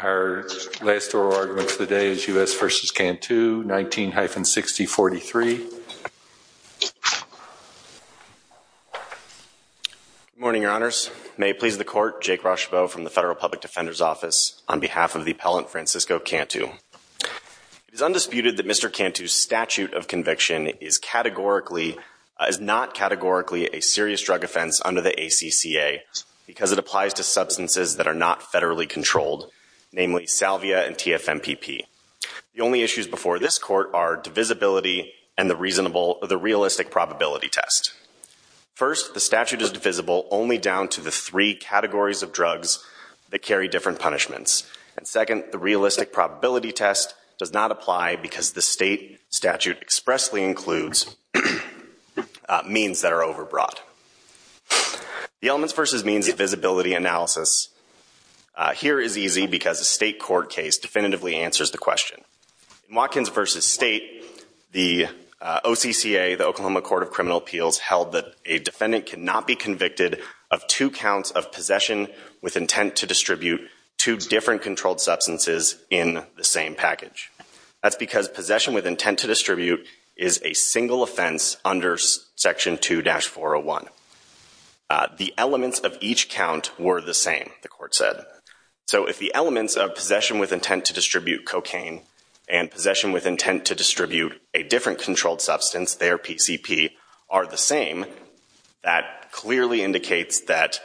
Our last oral argument for the day is U.S. v. Cantu, 19-6043. Good morning, your honors. May it please the court, Jake Rochebeau from the Federal Public Defender's Office on behalf of the appellant Francisco Cantu. It is undisputed that Mr. Cantu's statute of conviction is not categorically a serious drug offense under the ACCA because it applies to substances that are not federally controlled, namely salvia and TFMPP. The only issues before this court are divisibility and the realistic probability test. First, the statute is divisible only down to the three categories of drugs that carry different punishments. And second, the realistic probability test does not apply because the state statute expressly includes means that are overbrought. The elements versus means divisibility analysis here is easy because a state court case definitively answers the question. In Watkins v. State, the OCCA, the Oklahoma Court of Criminal Appeals, held that a defendant cannot be convicted of two counts of possession with intent to distribute two different controlled substances in the same package. That's because possession with intent to distribute is a single offense under Section 2-401. The elements of each count were the same, the court said. So if the elements of possession with intent to distribute cocaine and possession with intent to distribute a different controlled substance, their PCP, are the same, that clearly indicates that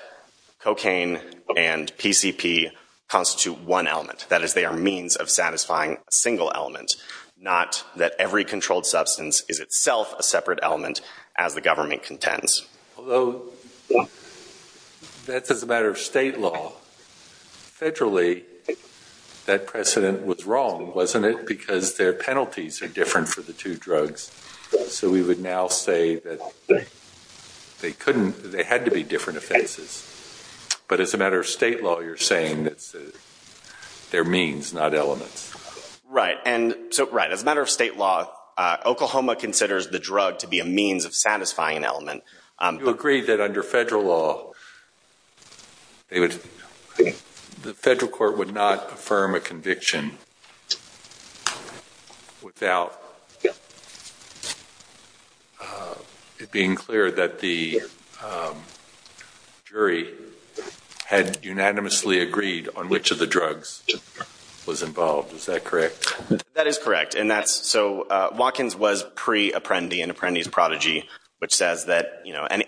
cocaine and PCP constitute one element. That is, they are means of satisfying a single element, not that every controlled substance is itself a separate element as the government contends. Although, that's as a matter of state law. Federally, that precedent was wrong, wasn't it? Because their penalties are different for the two drugs. So we would now say that they couldn't, they had to be different offenses. But as a matter of state law, you're saying that they're means, not elements. Right, and so, right, as a matter of state law, Oklahoma considers the drug to be a means of satisfying an element. You agree that under federal law, the federal court would not affirm a conviction without being clear that the jury had unanimously agreed on which of the drugs was involved. Is that correct? That is correct. And that's, so Watkins was pre-Apprendi and Apprendi's prodigy, which says that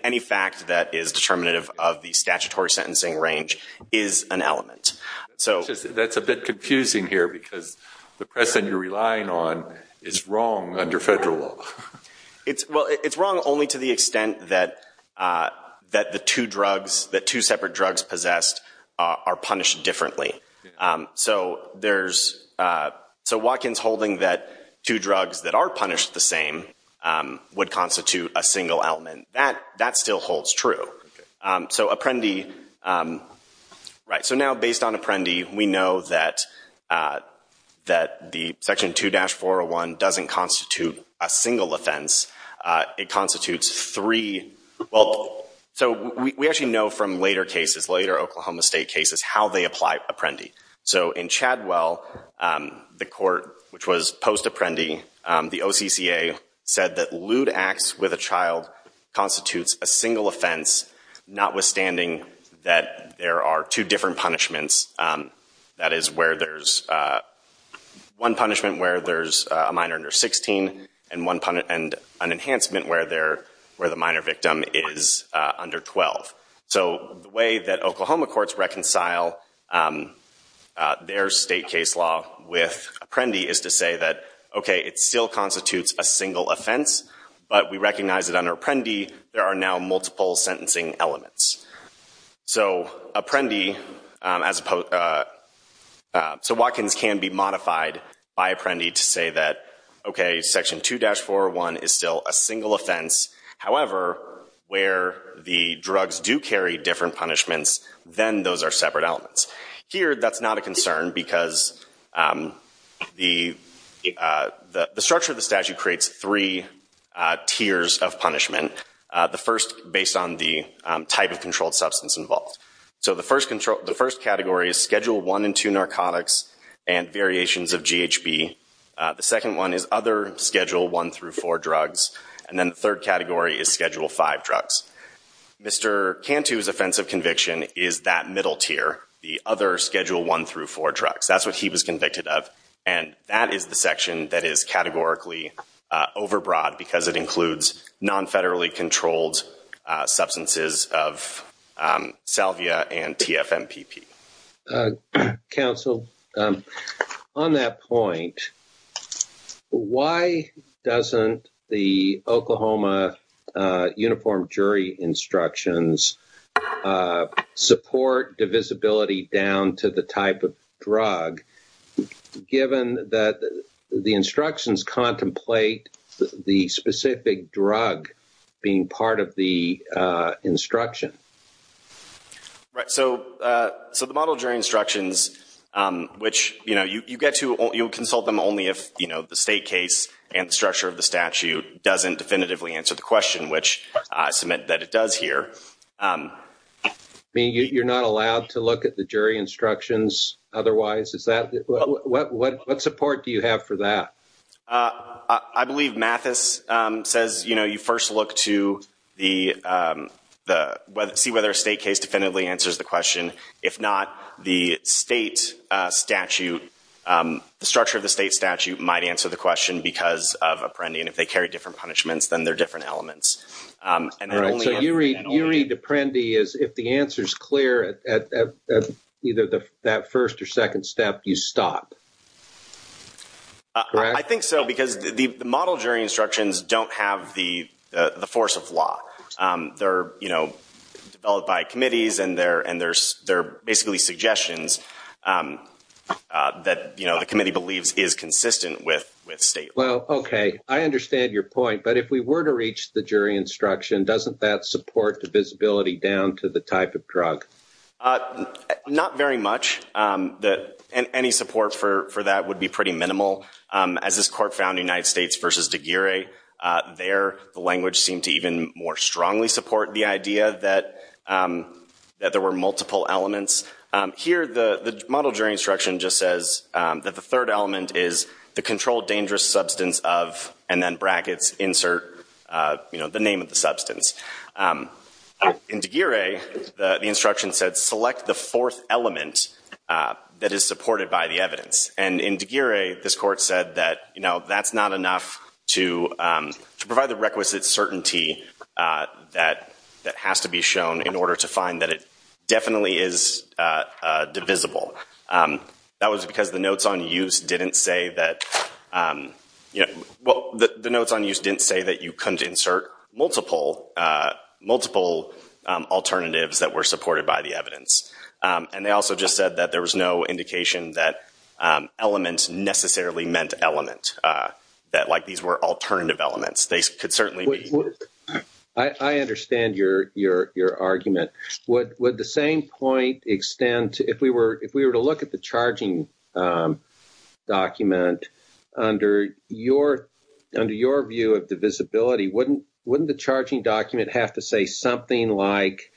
any fact that is determinative of the statutory sentencing range is an element. That's a bit confusing here because the precedent you're relying on is wrong under federal law. Well, it's wrong only to the extent that the two drugs, the two separate drugs possessed are punished differently. So there's, so Watkins holding that two drugs that are punished the same would constitute a single element, that still holds true. So Apprendi, right, so now based on Apprendi, we know that the Section 2-401 doesn't constitute a single offense. It constitutes three, well, so we actually know from later cases, later Oklahoma State cases how they apply Apprendi. So in Chadwell, the court, which was post-Apprendi, the OCCA said that lewd acts with a child constitutes a single offense, notwithstanding that there are two different punishments. That is where there's one punishment where there's a minor under 16 and an enhancement where the minor victim is under 12. So the way that Oklahoma courts reconcile their state case law with Apprendi is to say that, OK, it still constitutes a single offense, but we recognize that under Apprendi there are now multiple sentencing elements. So Apprendi, as opposed, so Watkins can be modified by Apprendi to say that, OK, Section 2-401 is still a single offense. However, where the drugs do carry different punishments, then those are separate elements. Here, that's not a concern because the structure of the statute creates three tiers of punishment. The first, based on the type of controlled substance involved. So the first category is Schedule 1 and 2 narcotics and variations of GHB. The second one is other Schedule 1 through 4 drugs. And then the third category is Schedule 5 drugs. Mr. Cantu's offense of conviction is that middle tier, the other Schedule 1 through 4 drugs. That's what he was convicted of. And that is the section that is categorically overbroad because it includes non-federally controlled substances of salvia and TFMPP. Counsel, on that point, why doesn't the Oklahoma Uniform Jury Instructions support divisibility down to the type of drug, given that the instructions contemplate the specific drug being part of the instruction? Right. So the Model Jury Instructions, which you'll consult them only if the state case and structure of the statute doesn't definitively answer the question, which I submit that it does here. I mean, you're not allowed to look at the jury instructions otherwise? What support do you have for that? I believe Mathis says, you know, you first look to see whether a state case definitively answers the question. If not, the state statute, the structure of the state statute might answer the question because of Apprendi. And if they carry different punishments, then they're different elements. And then only- So you read Apprendi as if the answer's clear at either that first or second step, you stop. Correct? I think so, because the Model Jury Instructions don't have the force of law. They're developed by committees, and they're basically suggestions that the committee believes is consistent with state law. Well, OK. I understand your point. But if we were to reach the jury instruction, doesn't that support divisibility down to the type of drug? Not very much. Any support for that would be pretty minimal. As this court found in United States v. Degree, there the language seemed to even more strongly support the idea that there were multiple elements. Here the Model Jury Instruction just says that the third element is the controlled dangerous substance of, and then brackets, insert the name of the substance. In Degree, the instruction said, select the fourth element that is supported by the evidence. And in Degree, this court said that that's not enough to provide the requisite certainty that has to be shown in order to find that it definitely is divisible. That was because the notes on use didn't say that you couldn't insert multiple elements. Multiple alternatives that were supported by the evidence. And they also just said that there was no indication that elements necessarily meant element, that like these were alternative elements. They could certainly be. I understand your argument. Would the same point extend to if we were to look at the charging document, under your view of divisibility, wouldn't the charging document have to say something like,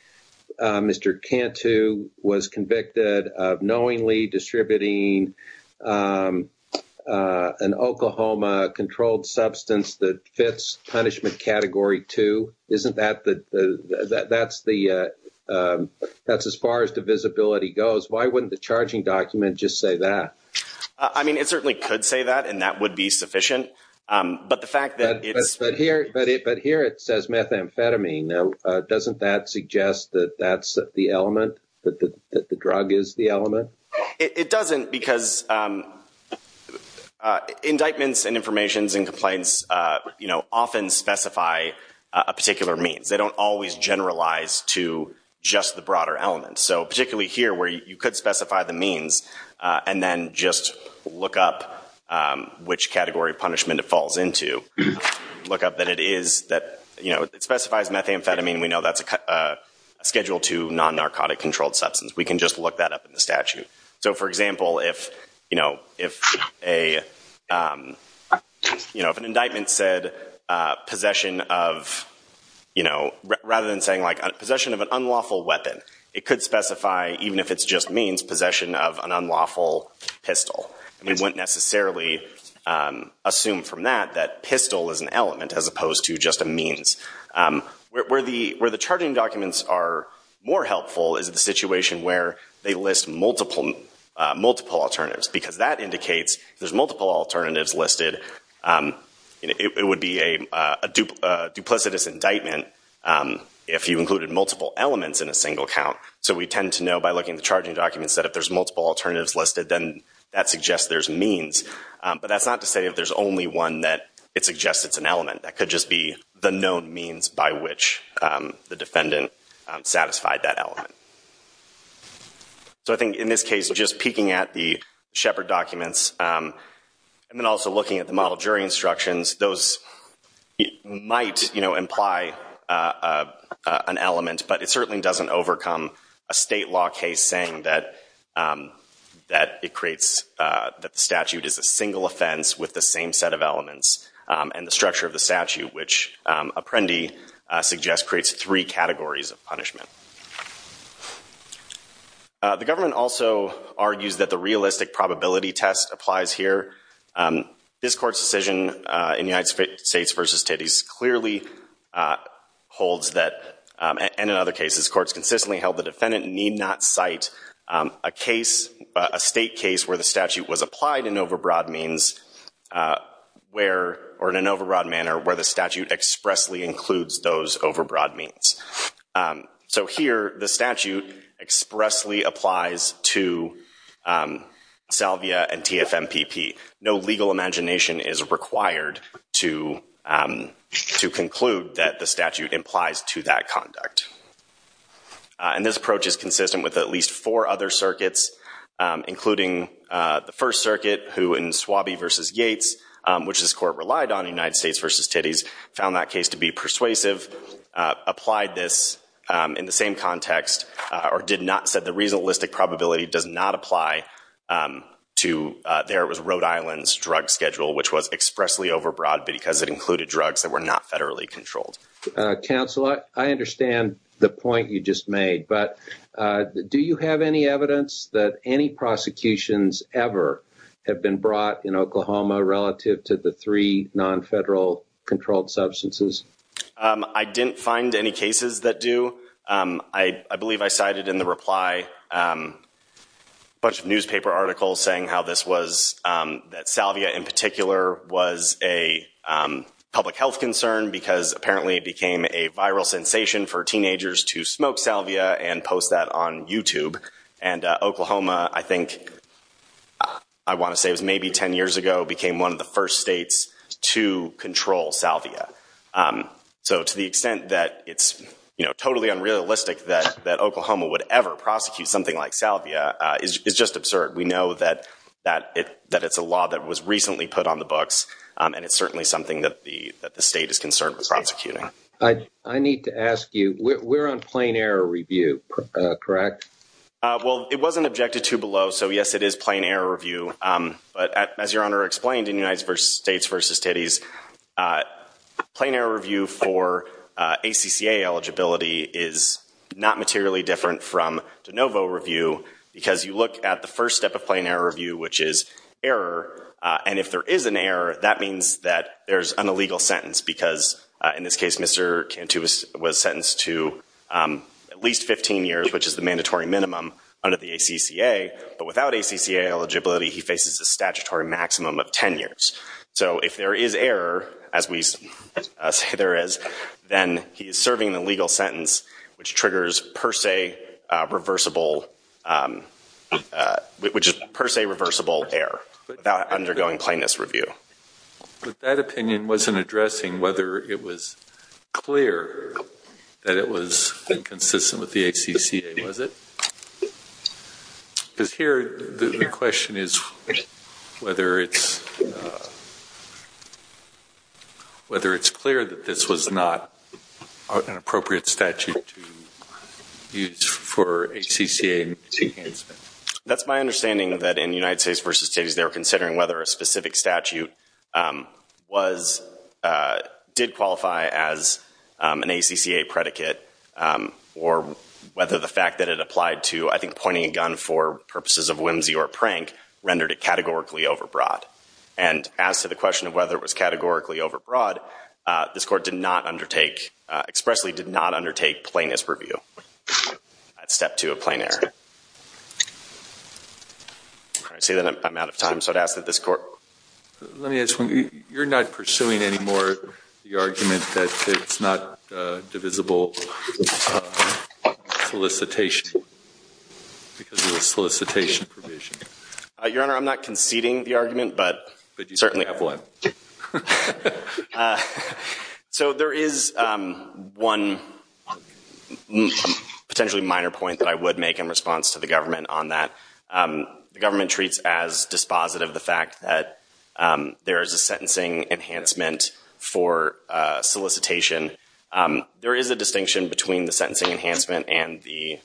Mr. Cantu was convicted of knowingly distributing an Oklahoma controlled substance that fits punishment category 2? Isn't that the, that's as far as divisibility goes? Why wouldn't the charging document just say that? I mean, it certainly could say that, and that would be sufficient. But the fact that it's... But here it says methamphetamine. Now, doesn't that suggest that that's the element, that the drug is the element? It doesn't because indictments and informations and complaints, you know, often specify a particular means. They don't always generalize to just the broader element. So particularly here where you could specify the means and then just look up which category punishment it falls into, look up that it is, that, you know, it specifies methamphetamine. We know that's a schedule 2 non-narcotic controlled substance. We can just look that up in the statute. So for example, if, you know, if a, you know, if an indictment said possession of, you know, rather than saying like possession of an unlawful weapon, it could specify, even if it's just means, possession of an unlawful pistol. And we wouldn't necessarily assume from that that pistol is an element as opposed to just a means. Where the charging documents are more helpful is the situation where they list multiple alternatives, because that indicates if there's multiple alternatives listed, you know, it would be a duplicitous indictment if you included multiple elements in a single count. So we tend to know by looking at the charging documents that if there's multiple alternatives listed, then that suggests there's means. But that's not to say if there's only one that it suggests it's an element. That could just be the known means by which the defendant satisfied that element. So I think in this case, just peeking at the Shepard documents and then also looking at the model jury instructions, those might, you know, imply an element, but it certainly doesn't overcome a state law case saying that it creates, that the statute is a single offense with the same set of elements. And the structure of the statute, which Apprendi suggests, creates three categories of punishment. The government also argues that the realistic probability test applies here. This court's decision in United States v. Titties clearly holds that, and in other cases, this court's consistently held the defendant need not cite a case, a state case where the statute was applied in overbroad means, where, or in an overbroad manner, where the statute expressly includes those overbroad means. So here, the statute expressly applies to Salvia and TF-MPP. No legal imagination is required to conclude that the statute implies to that conduct. And this approach is consistent with at least four other circuits, including the First Circuit, who in Swabie v. Yates, which this court relied on, United States v. Titties, found that case to be persuasive, applied this in the same context, or did not set the reasonalistic probability does not apply to, there it was Rhode Island's drug schedule, which was expressly overbroad because it included drugs that were not federally controlled. Counsel, I understand the point you just made, but do you have any evidence that any prosecutions ever have been brought in Oklahoma relative to the three non-federal controlled substances? I didn't find any cases that do. I believe I cited in the reply a bunch of newspaper articles saying how this was, that Salvia in particular was a public health concern because apparently it became a viral sensation for teenagers to smoke Salvia and post that on YouTube. And Oklahoma, I think, I want to say it was maybe 10 years ago, became one of the first states to control Salvia. So to the extent that it's totally unrealistic that Oklahoma would ever prosecute something like Salvia is just absurd. We know that it's a law that was recently put on the books and it's certainly something that the state is concerned with prosecuting. I need to ask you, we're on plain error review, correct? Well, it wasn't objected to below, so yes, it is plain error review. But as your Honor explained in United States v. Titties, plain error review for ACCA eligibility is not materially different from de novo review because you look at the first step of plain error review, which is error, and if there is an error, that means that there's an illegal sentence because in this case, Mr. Cantu was sentenced to at least 15 years, which is the statutory maximum of 10 years. So if there is error, as we say there is, then he is serving an illegal sentence, which triggers per se reversible error without undergoing plainness review. That opinion wasn't addressing whether it was clear that it was inconsistent with the Whether it's clear that this was not an appropriate statute to use for ACCA enhancement. That's my understanding that in United States v. Titties, they were considering whether a specific statute did qualify as an ACCA predicate or whether the fact that it applied to I think pointing a gun for purposes of whimsy or prank rendered it categorically overbroad. And as to the question of whether it was categorically overbroad, this Court did not undertake, expressly did not undertake plainness review at step two of plain error. I see that I'm out of time, so I'd ask that this Court Let me ask you, you're not pursuing anymore the argument that it's not divisible solicitation because of the solicitation provision? Your Honor, I'm not conceding the argument, but certainly. So there is one potentially minor point that I would make in response to the government on that. The government treats as dispositive the fact that there is a sentencing enhancement for solicitation. There is a distinction between the sentencing enhancement and the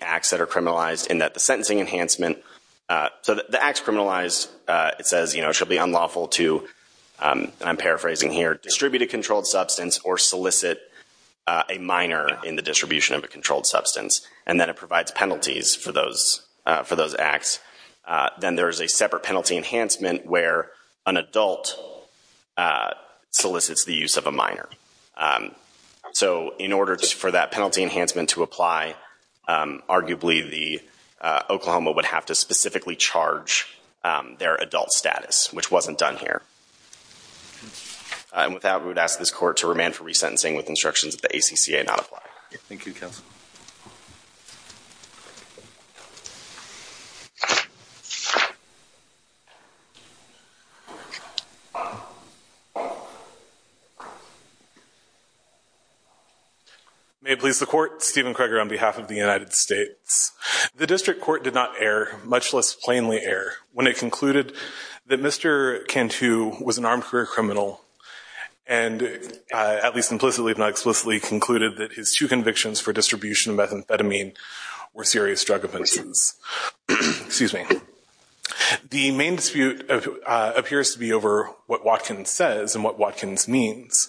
acts that are criminalized in that the sentencing enhancement, so the acts criminalized, it says, you know, shall be unlawful to, and I'm paraphrasing here, distribute a controlled substance or solicit a minor in the distribution of a controlled substance. And then it provides penalties for those acts. Then there is a separate penalty enhancement where an adult solicits the use of a minor. So in order for that penalty enhancement to apply, arguably the Oklahoma would have to specifically charge their adult status, which wasn't done here. And with that, we would ask this Court to remand for resentencing with instructions that the ACCA not apply. Thank you, Counsel. May it please the Court, Stephen Kreger on behalf of the United States. The District Court did not err, much less plainly err, when it concluded that Mr. Cantu was an armed career criminal and, at least implicitly if not explicitly, concluded that his two convictions for distribution of methamphetamine were serious drug offenses. The main dispute appears to be over what Watkins says and what Watkins means.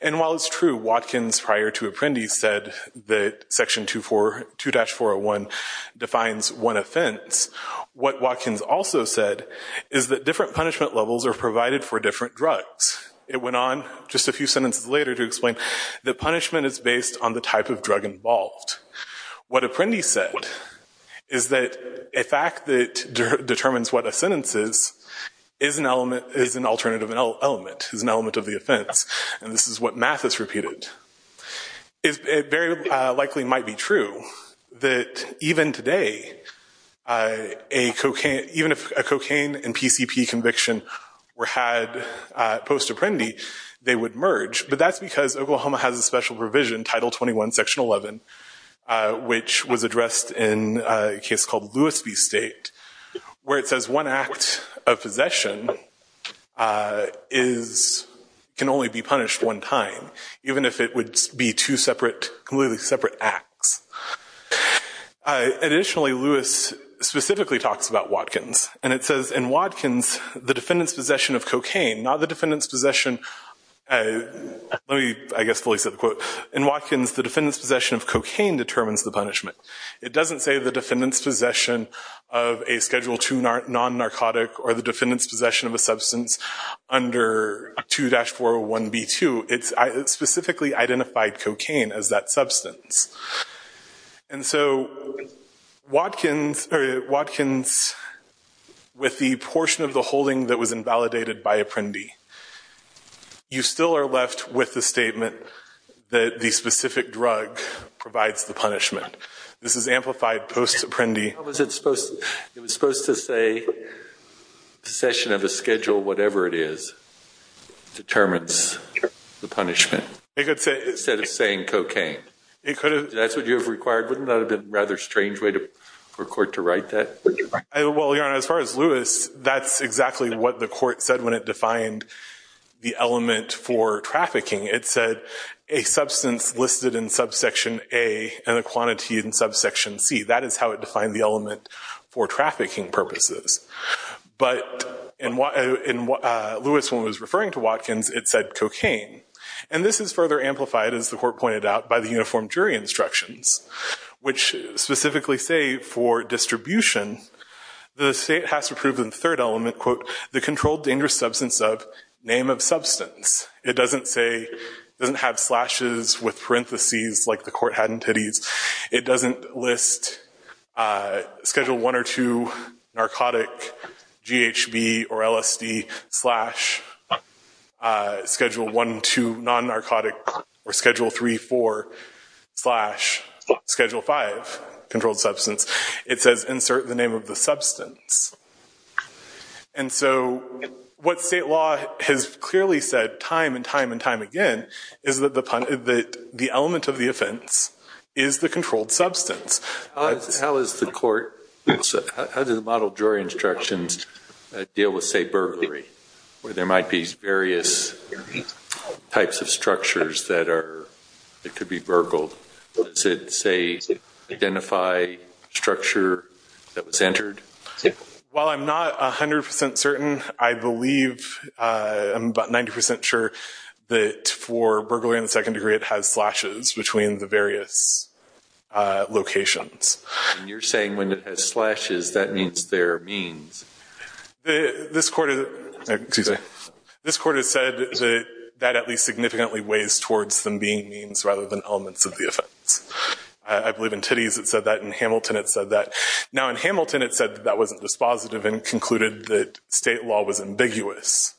And while it's true Watkins prior to Apprendi said that Section 2-401 defines one offense, what Watkins also said is that different punishment levels are provided for different drugs. It went on just a few sentences later to explain that punishment is based on the type of drug involved. What Apprendi said is that a fact that determines what a sentence is, is an alternative element, is an element of the offense, and this is what Mathis repeated. It very likely might be true that even today, a cocaine, even if a cocaine and PCP conviction were had post-Apprendi, they would merge, but that's because Oklahoma has a special provision, Title 21, Section 11, which was addressed in a case called Lewis v. State, where it says one act of possession can only be punished one time, even if it would be two completely separate acts. Additionally, Lewis specifically talks about Watkins, and it says in Watkins the defendant's possession of cocaine, not the defendant's possession, let me I guess fully say the quote, in Watkins the defendant's possession of cocaine determines the punishment. It doesn't say the defendant's possession of a Schedule II non-narcotic or the defendant's possession of a substance under 2-401B2, it specifically identified cocaine as that substance. And so Watkins, with the portion of the holding that was invalidated by Apprendi, you still are left with the statement that the specific drug provides the punishment. This is amplified post-Apprendi. How was it supposed to say possession of a schedule, whatever it is, determines the punishment, instead of saying cocaine? It could have. That's what you have required? Wouldn't that have been a rather strange way for a court to write that? Well, Your Honor, as far as Lewis, that's exactly what the court said when it defined the element for trafficking. It said a substance listed in subsection A, and a quantity in subsection C. That is how it defined the element for trafficking purposes. But in what Lewis was referring to Watkins, it said cocaine. And this is further amplified, as the court pointed out, by the uniform jury instructions, which specifically say for distribution, the state has to prove in the third element, quote, the controlled dangerous substance of name of substance. It doesn't have slashes with parentheses like the court had in Titties. It doesn't list schedule 1 or 2, narcotic, GHB or LSD, slash, schedule 1, 2, non-narcotic, or schedule 3, 4, slash, schedule 5, controlled substance. It says insert the name of the substance. And so what state law has clearly said time and time and time again is that the element of the offense is the controlled substance. How does the model jury instructions deal with, say, burglary, where there might be various types of structures that could be burgled? Does it, say, identify a structure that was entered? While I'm not 100% certain, I believe, I'm about 90% sure that for burglary in the second degree, it has slashes between the various locations. And you're saying when it has slashes, that means they're means? This court has said that at least significantly weighs towards them being means rather than elements of the offense. I believe in Titties it said that, in Hamilton it said that. Now in Hamilton it said that wasn't dispositive and concluded that state law was ambiguous.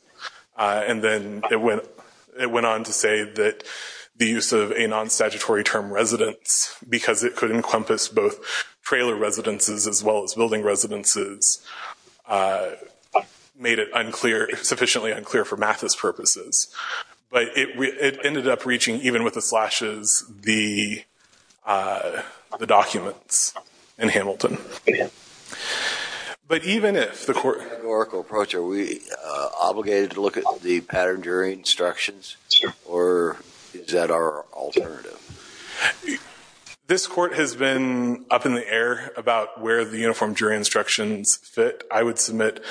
And then it went on to say that the use of a non-statutory term residence, because it could encompass both trailer residences as well as building residences, made it sufficiently unclear for Mathis purposes. But it ended up reaching, even with the slashes, the documents in Hamilton. But even if the court... In a categorical approach, are we obligated to look at the pattern jury instructions, or is that our alternative? This court has been up in the air about where the uniform jury instructions fit. I would submit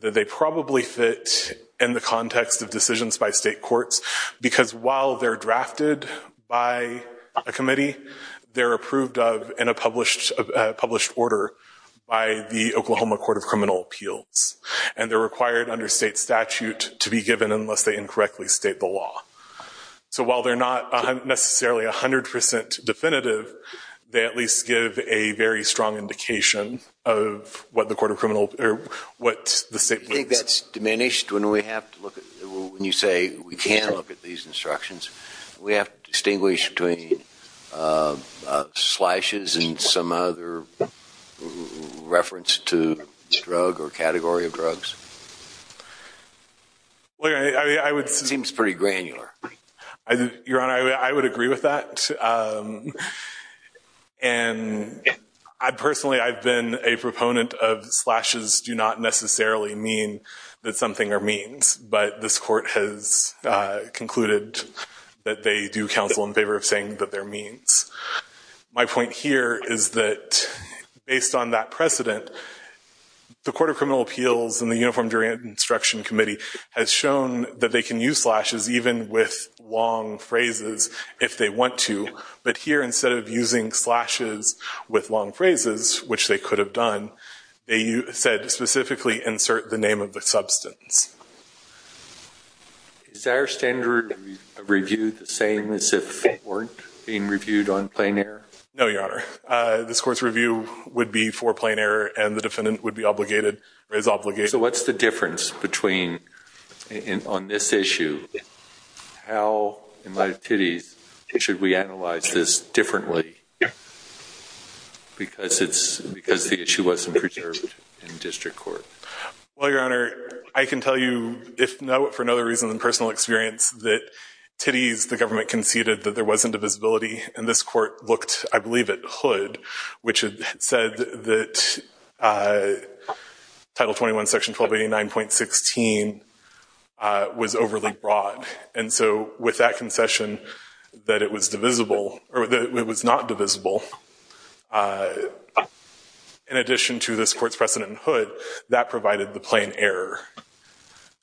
that they probably fit in the context of decisions by state courts, because while they're drafted by a committee, they're approved of in a published order by the Oklahoma Court of Criminal Appeals. And they're required under state statute to be given unless they incorrectly state the law. So while they're not necessarily 100% definitive, they at least give a very strong indication of what the court of criminal, or what the state... Do you think that's diminished when we have to look at, when you say we can't look at these instructions? We have to distinguish between slashes and some other reference to this drug or category of drugs? Seems pretty granular. Your Honor, I would agree with that. And I personally, I've been a proponent of slashes do not necessarily mean that something are means, but this court has concluded that they do counsel in favor of saying that they're means. My point here is that based on that precedent, the Court of Criminal Appeals and the Uniform Jury Instruction Committee has shown that they can use slashes even with long phrases if they want to. But here, instead of using slashes with long phrases, which they could have done, they said specifically insert the name of the substance. Is our standard review the same as if it weren't being reviewed on plain error? No, Your Honor. This court's review would be for plain error and the defendant would be obligated or is obligated. What's the difference on this issue? How, in light of Titties, should we analyze this differently? Because the issue wasn't preserved in district court. Well, Your Honor, I can tell you, for no other reason than personal experience, that Titties, the government conceded that there wasn't a visibility. And this court looked, I believe, at Hood, which had said that Title 21, Section 1289.16 was overly broad. And so with that concession that it was divisible or that it was not divisible in addition to this court's precedent in Hood, that provided the plain error.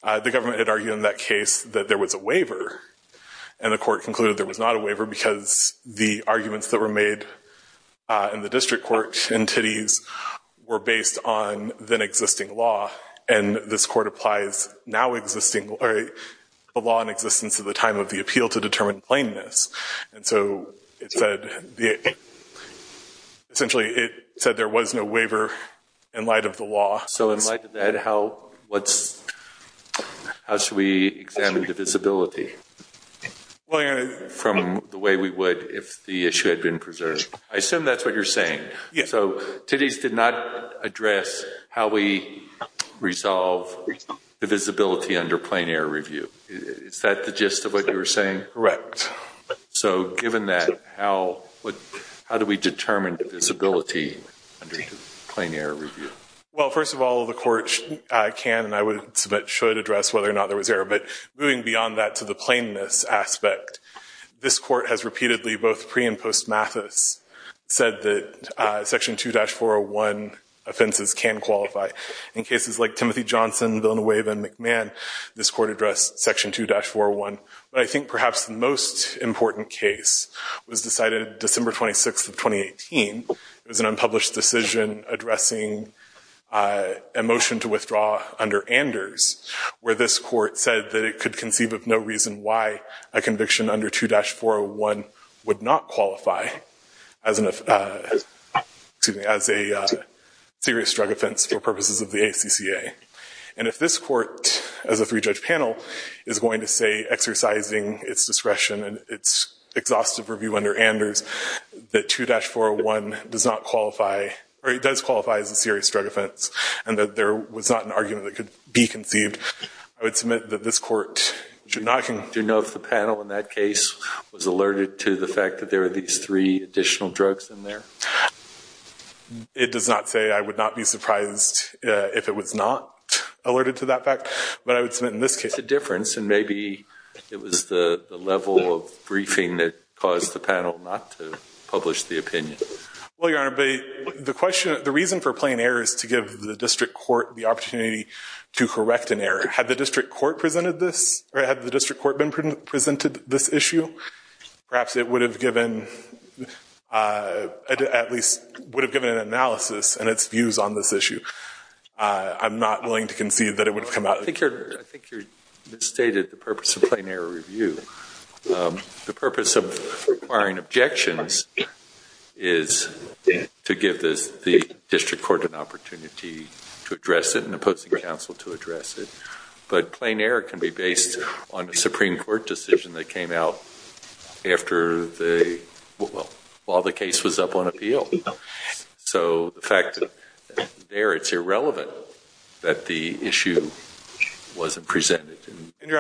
The government had argued in that case that there was a waiver. And the court concluded there was not a waiver because the arguments that were made in the district court in Titties were based on then existing law. And this court applies now existing or the law in existence of the time of the appeal to determine plainness. And so it said, essentially, it said there was no waiver in light of the law. So in light of that, how should we examine divisibility? Well, Your Honor, from the way we would if the issue had been preserved. I assume that's what you're saying. So Titties did not address how we resolve divisibility under plain error review. Is that the gist of what you were saying? Correct. So given that, how do we determine divisibility under plain error review? Well, first of all, the court can and I would submit should address whether or not there was to the plainness aspect. This court has repeatedly, both pre and post Mathis, said that Section 2-401 offenses can qualify. In cases like Timothy Johnson, Villanueva, and McMahon, this court addressed Section 2-401. But I think perhaps the most important case was decided December 26th of 2018. It was an unpublished decision addressing a motion to withdraw under Anders, where this said that it could conceive of no reason why a conviction under 2-401 would not qualify as a serious drug offense for purposes of the ACCA. And if this court, as a three-judge panel, is going to say, exercising its discretion and its exhaustive review under Anders, that 2-401 does qualify as a serious drug offense and that there was not an argument that could be conceived. I would submit that this court should not. Do you know if the panel in that case was alerted to the fact that there were these three additional drugs in there? It does not say. I would not be surprised if it was not alerted to that fact. But I would submit in this case. It's a difference. And maybe it was the level of briefing that caused the panel not to publish the opinion. Well, Your Honor, the reason for plain error is to give the district court the opportunity to correct an error. Had the district court presented this? Or had the district court been presented this issue? Perhaps it would have given, at least would have given an analysis and its views on this issue. I'm not willing to concede that it would have come out. I think you misstated the purpose of plain error review. The purpose of requiring objections is to give the district court an opportunity to counsel to address it. But plain error can be based on a Supreme Court decision that came out after the, well, while the case was up on appeal. So the fact that there it's irrelevant that the issue wasn't presented. And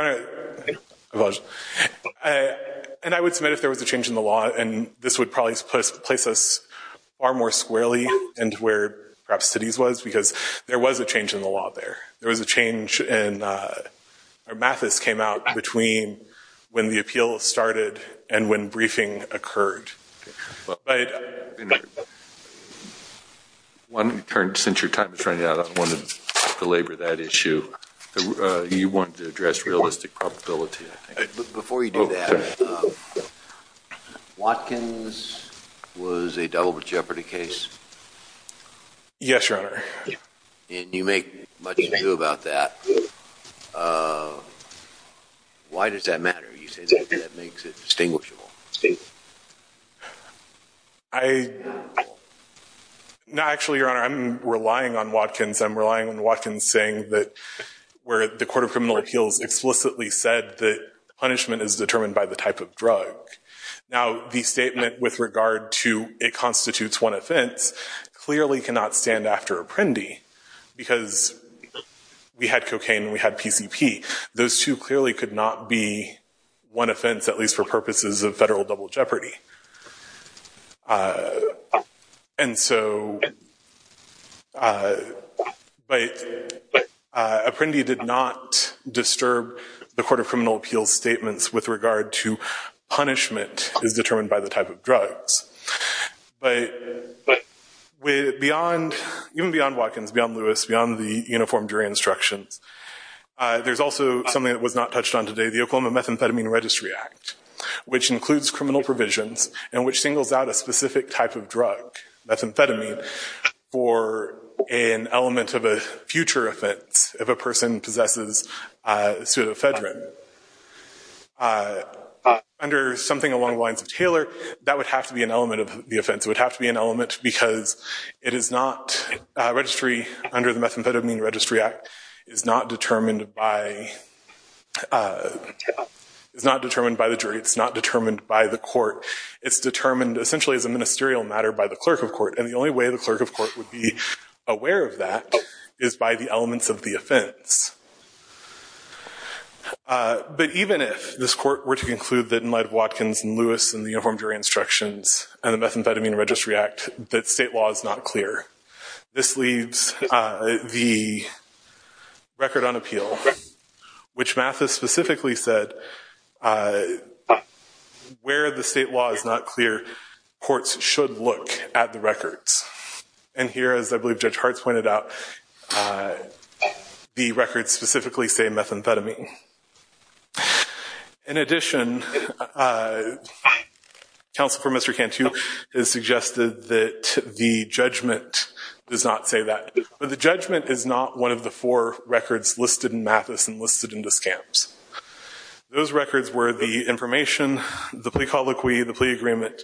I would submit if there was a change in the law, and this would probably place us far more squarely into where perhaps cities was. Because there was a change in the law there. There was a change in, or Mathis came out between when the appeal started and when briefing occurred. One, since your time is running out, I don't want to belabor that issue. Before you do that, Watkins was a double jeopardy case? Yes, your honor. And you make much to do about that. Why does that matter? You say that makes it distinguishable. I, no, actually, your honor, I'm relying on Watkins. I'm relying on Watkins saying that where the court of criminal appeals explicitly said that punishment is determined by the type of drug, now the statement with regard to it constitutes one offense clearly cannot stand after Apprendi. Because we had cocaine and we had PCP. Those two clearly could not be one offense, at least for purposes of federal double jeopardy. And so, but Apprendi did not disturb the court of criminal appeals statements with regard to punishment is determined by the type of drugs. But beyond, even beyond Watkins, beyond Lewis, beyond the uniform jury instructions, there's also something that was not touched on today, the Oklahoma Methamphetamine Registry Act, which includes criminal provisions and which singles out a specific type of drug, methamphetamine, for an element of a future offense if a person possesses pseudoephedrine. Under something along the lines of Taylor, that would have to be an element of the offense. It would have to be an element because it is not, registry under the Methamphetamine Registry Act is not determined by, it's not determined by the jury, it's not determined by the court, it's determined essentially as a ministerial matter by the clerk of court. And the only way the clerk of court would be aware of that is by the elements of the offense. But even if this court were to conclude that in light of Watkins and Lewis and the uniform jury instructions and the Methamphetamine Registry Act, that state law is not clear. This leaves the record on appeal, which Mathis specifically said, where the state law is not clear, courts should look at the records. And here, as I believe Judge Hartz pointed out, the records specifically say methamphetamine. In addition, counsel for Mr. Cantu has suggested that the judgment does not say that. But the judgment is not one of the four records listed in Mathis and listed in the scams. Those records were the information, the plea colloquy, the plea agreement,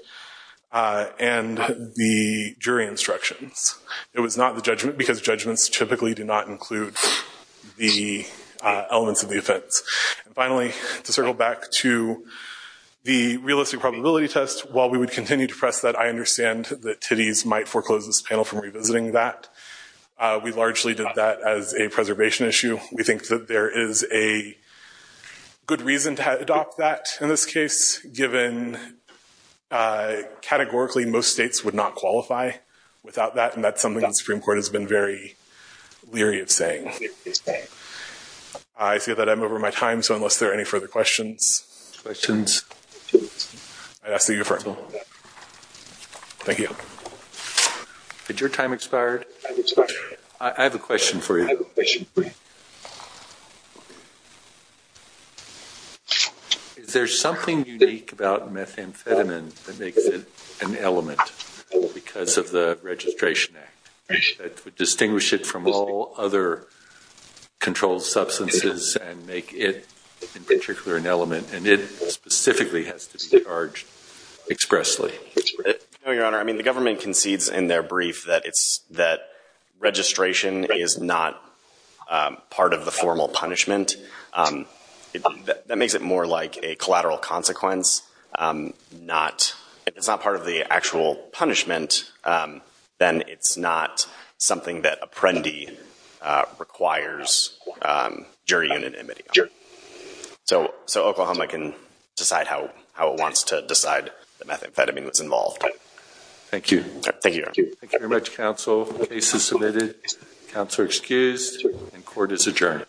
and the jury instructions. It was not the judgment because judgments typically do not include the elements of the offense. And finally, to circle back to the realistic probability test, while we would continue to press that, I understand that Titties might foreclose this panel from revisiting that. We largely did that as a preservation issue. We think that there is a good reason to adopt that in this case, given categorically most states would not qualify without that. And that's something the Supreme Court has been very leery of saying. I see that I'm over my time. So unless there are any further questions, I'd ask that you affirm. Thank you. Had your time expired? I have a question for you. Is there something unique about methamphetamine that makes it an element because of the controlled substances and make it, in particular, an element, and it specifically has to be charged expressly? No, Your Honor. I mean, the government concedes in their brief that registration is not part of the formal punishment. That makes it more like a collateral consequence. If it's not part of the actual punishment, then it's not something that a prendi requires jury unanimity on. So Oklahoma can decide how it wants to decide that methamphetamine was involved. Thank you. Thank you very much, counsel. Case is submitted. Counselor excused. And court is adjourned.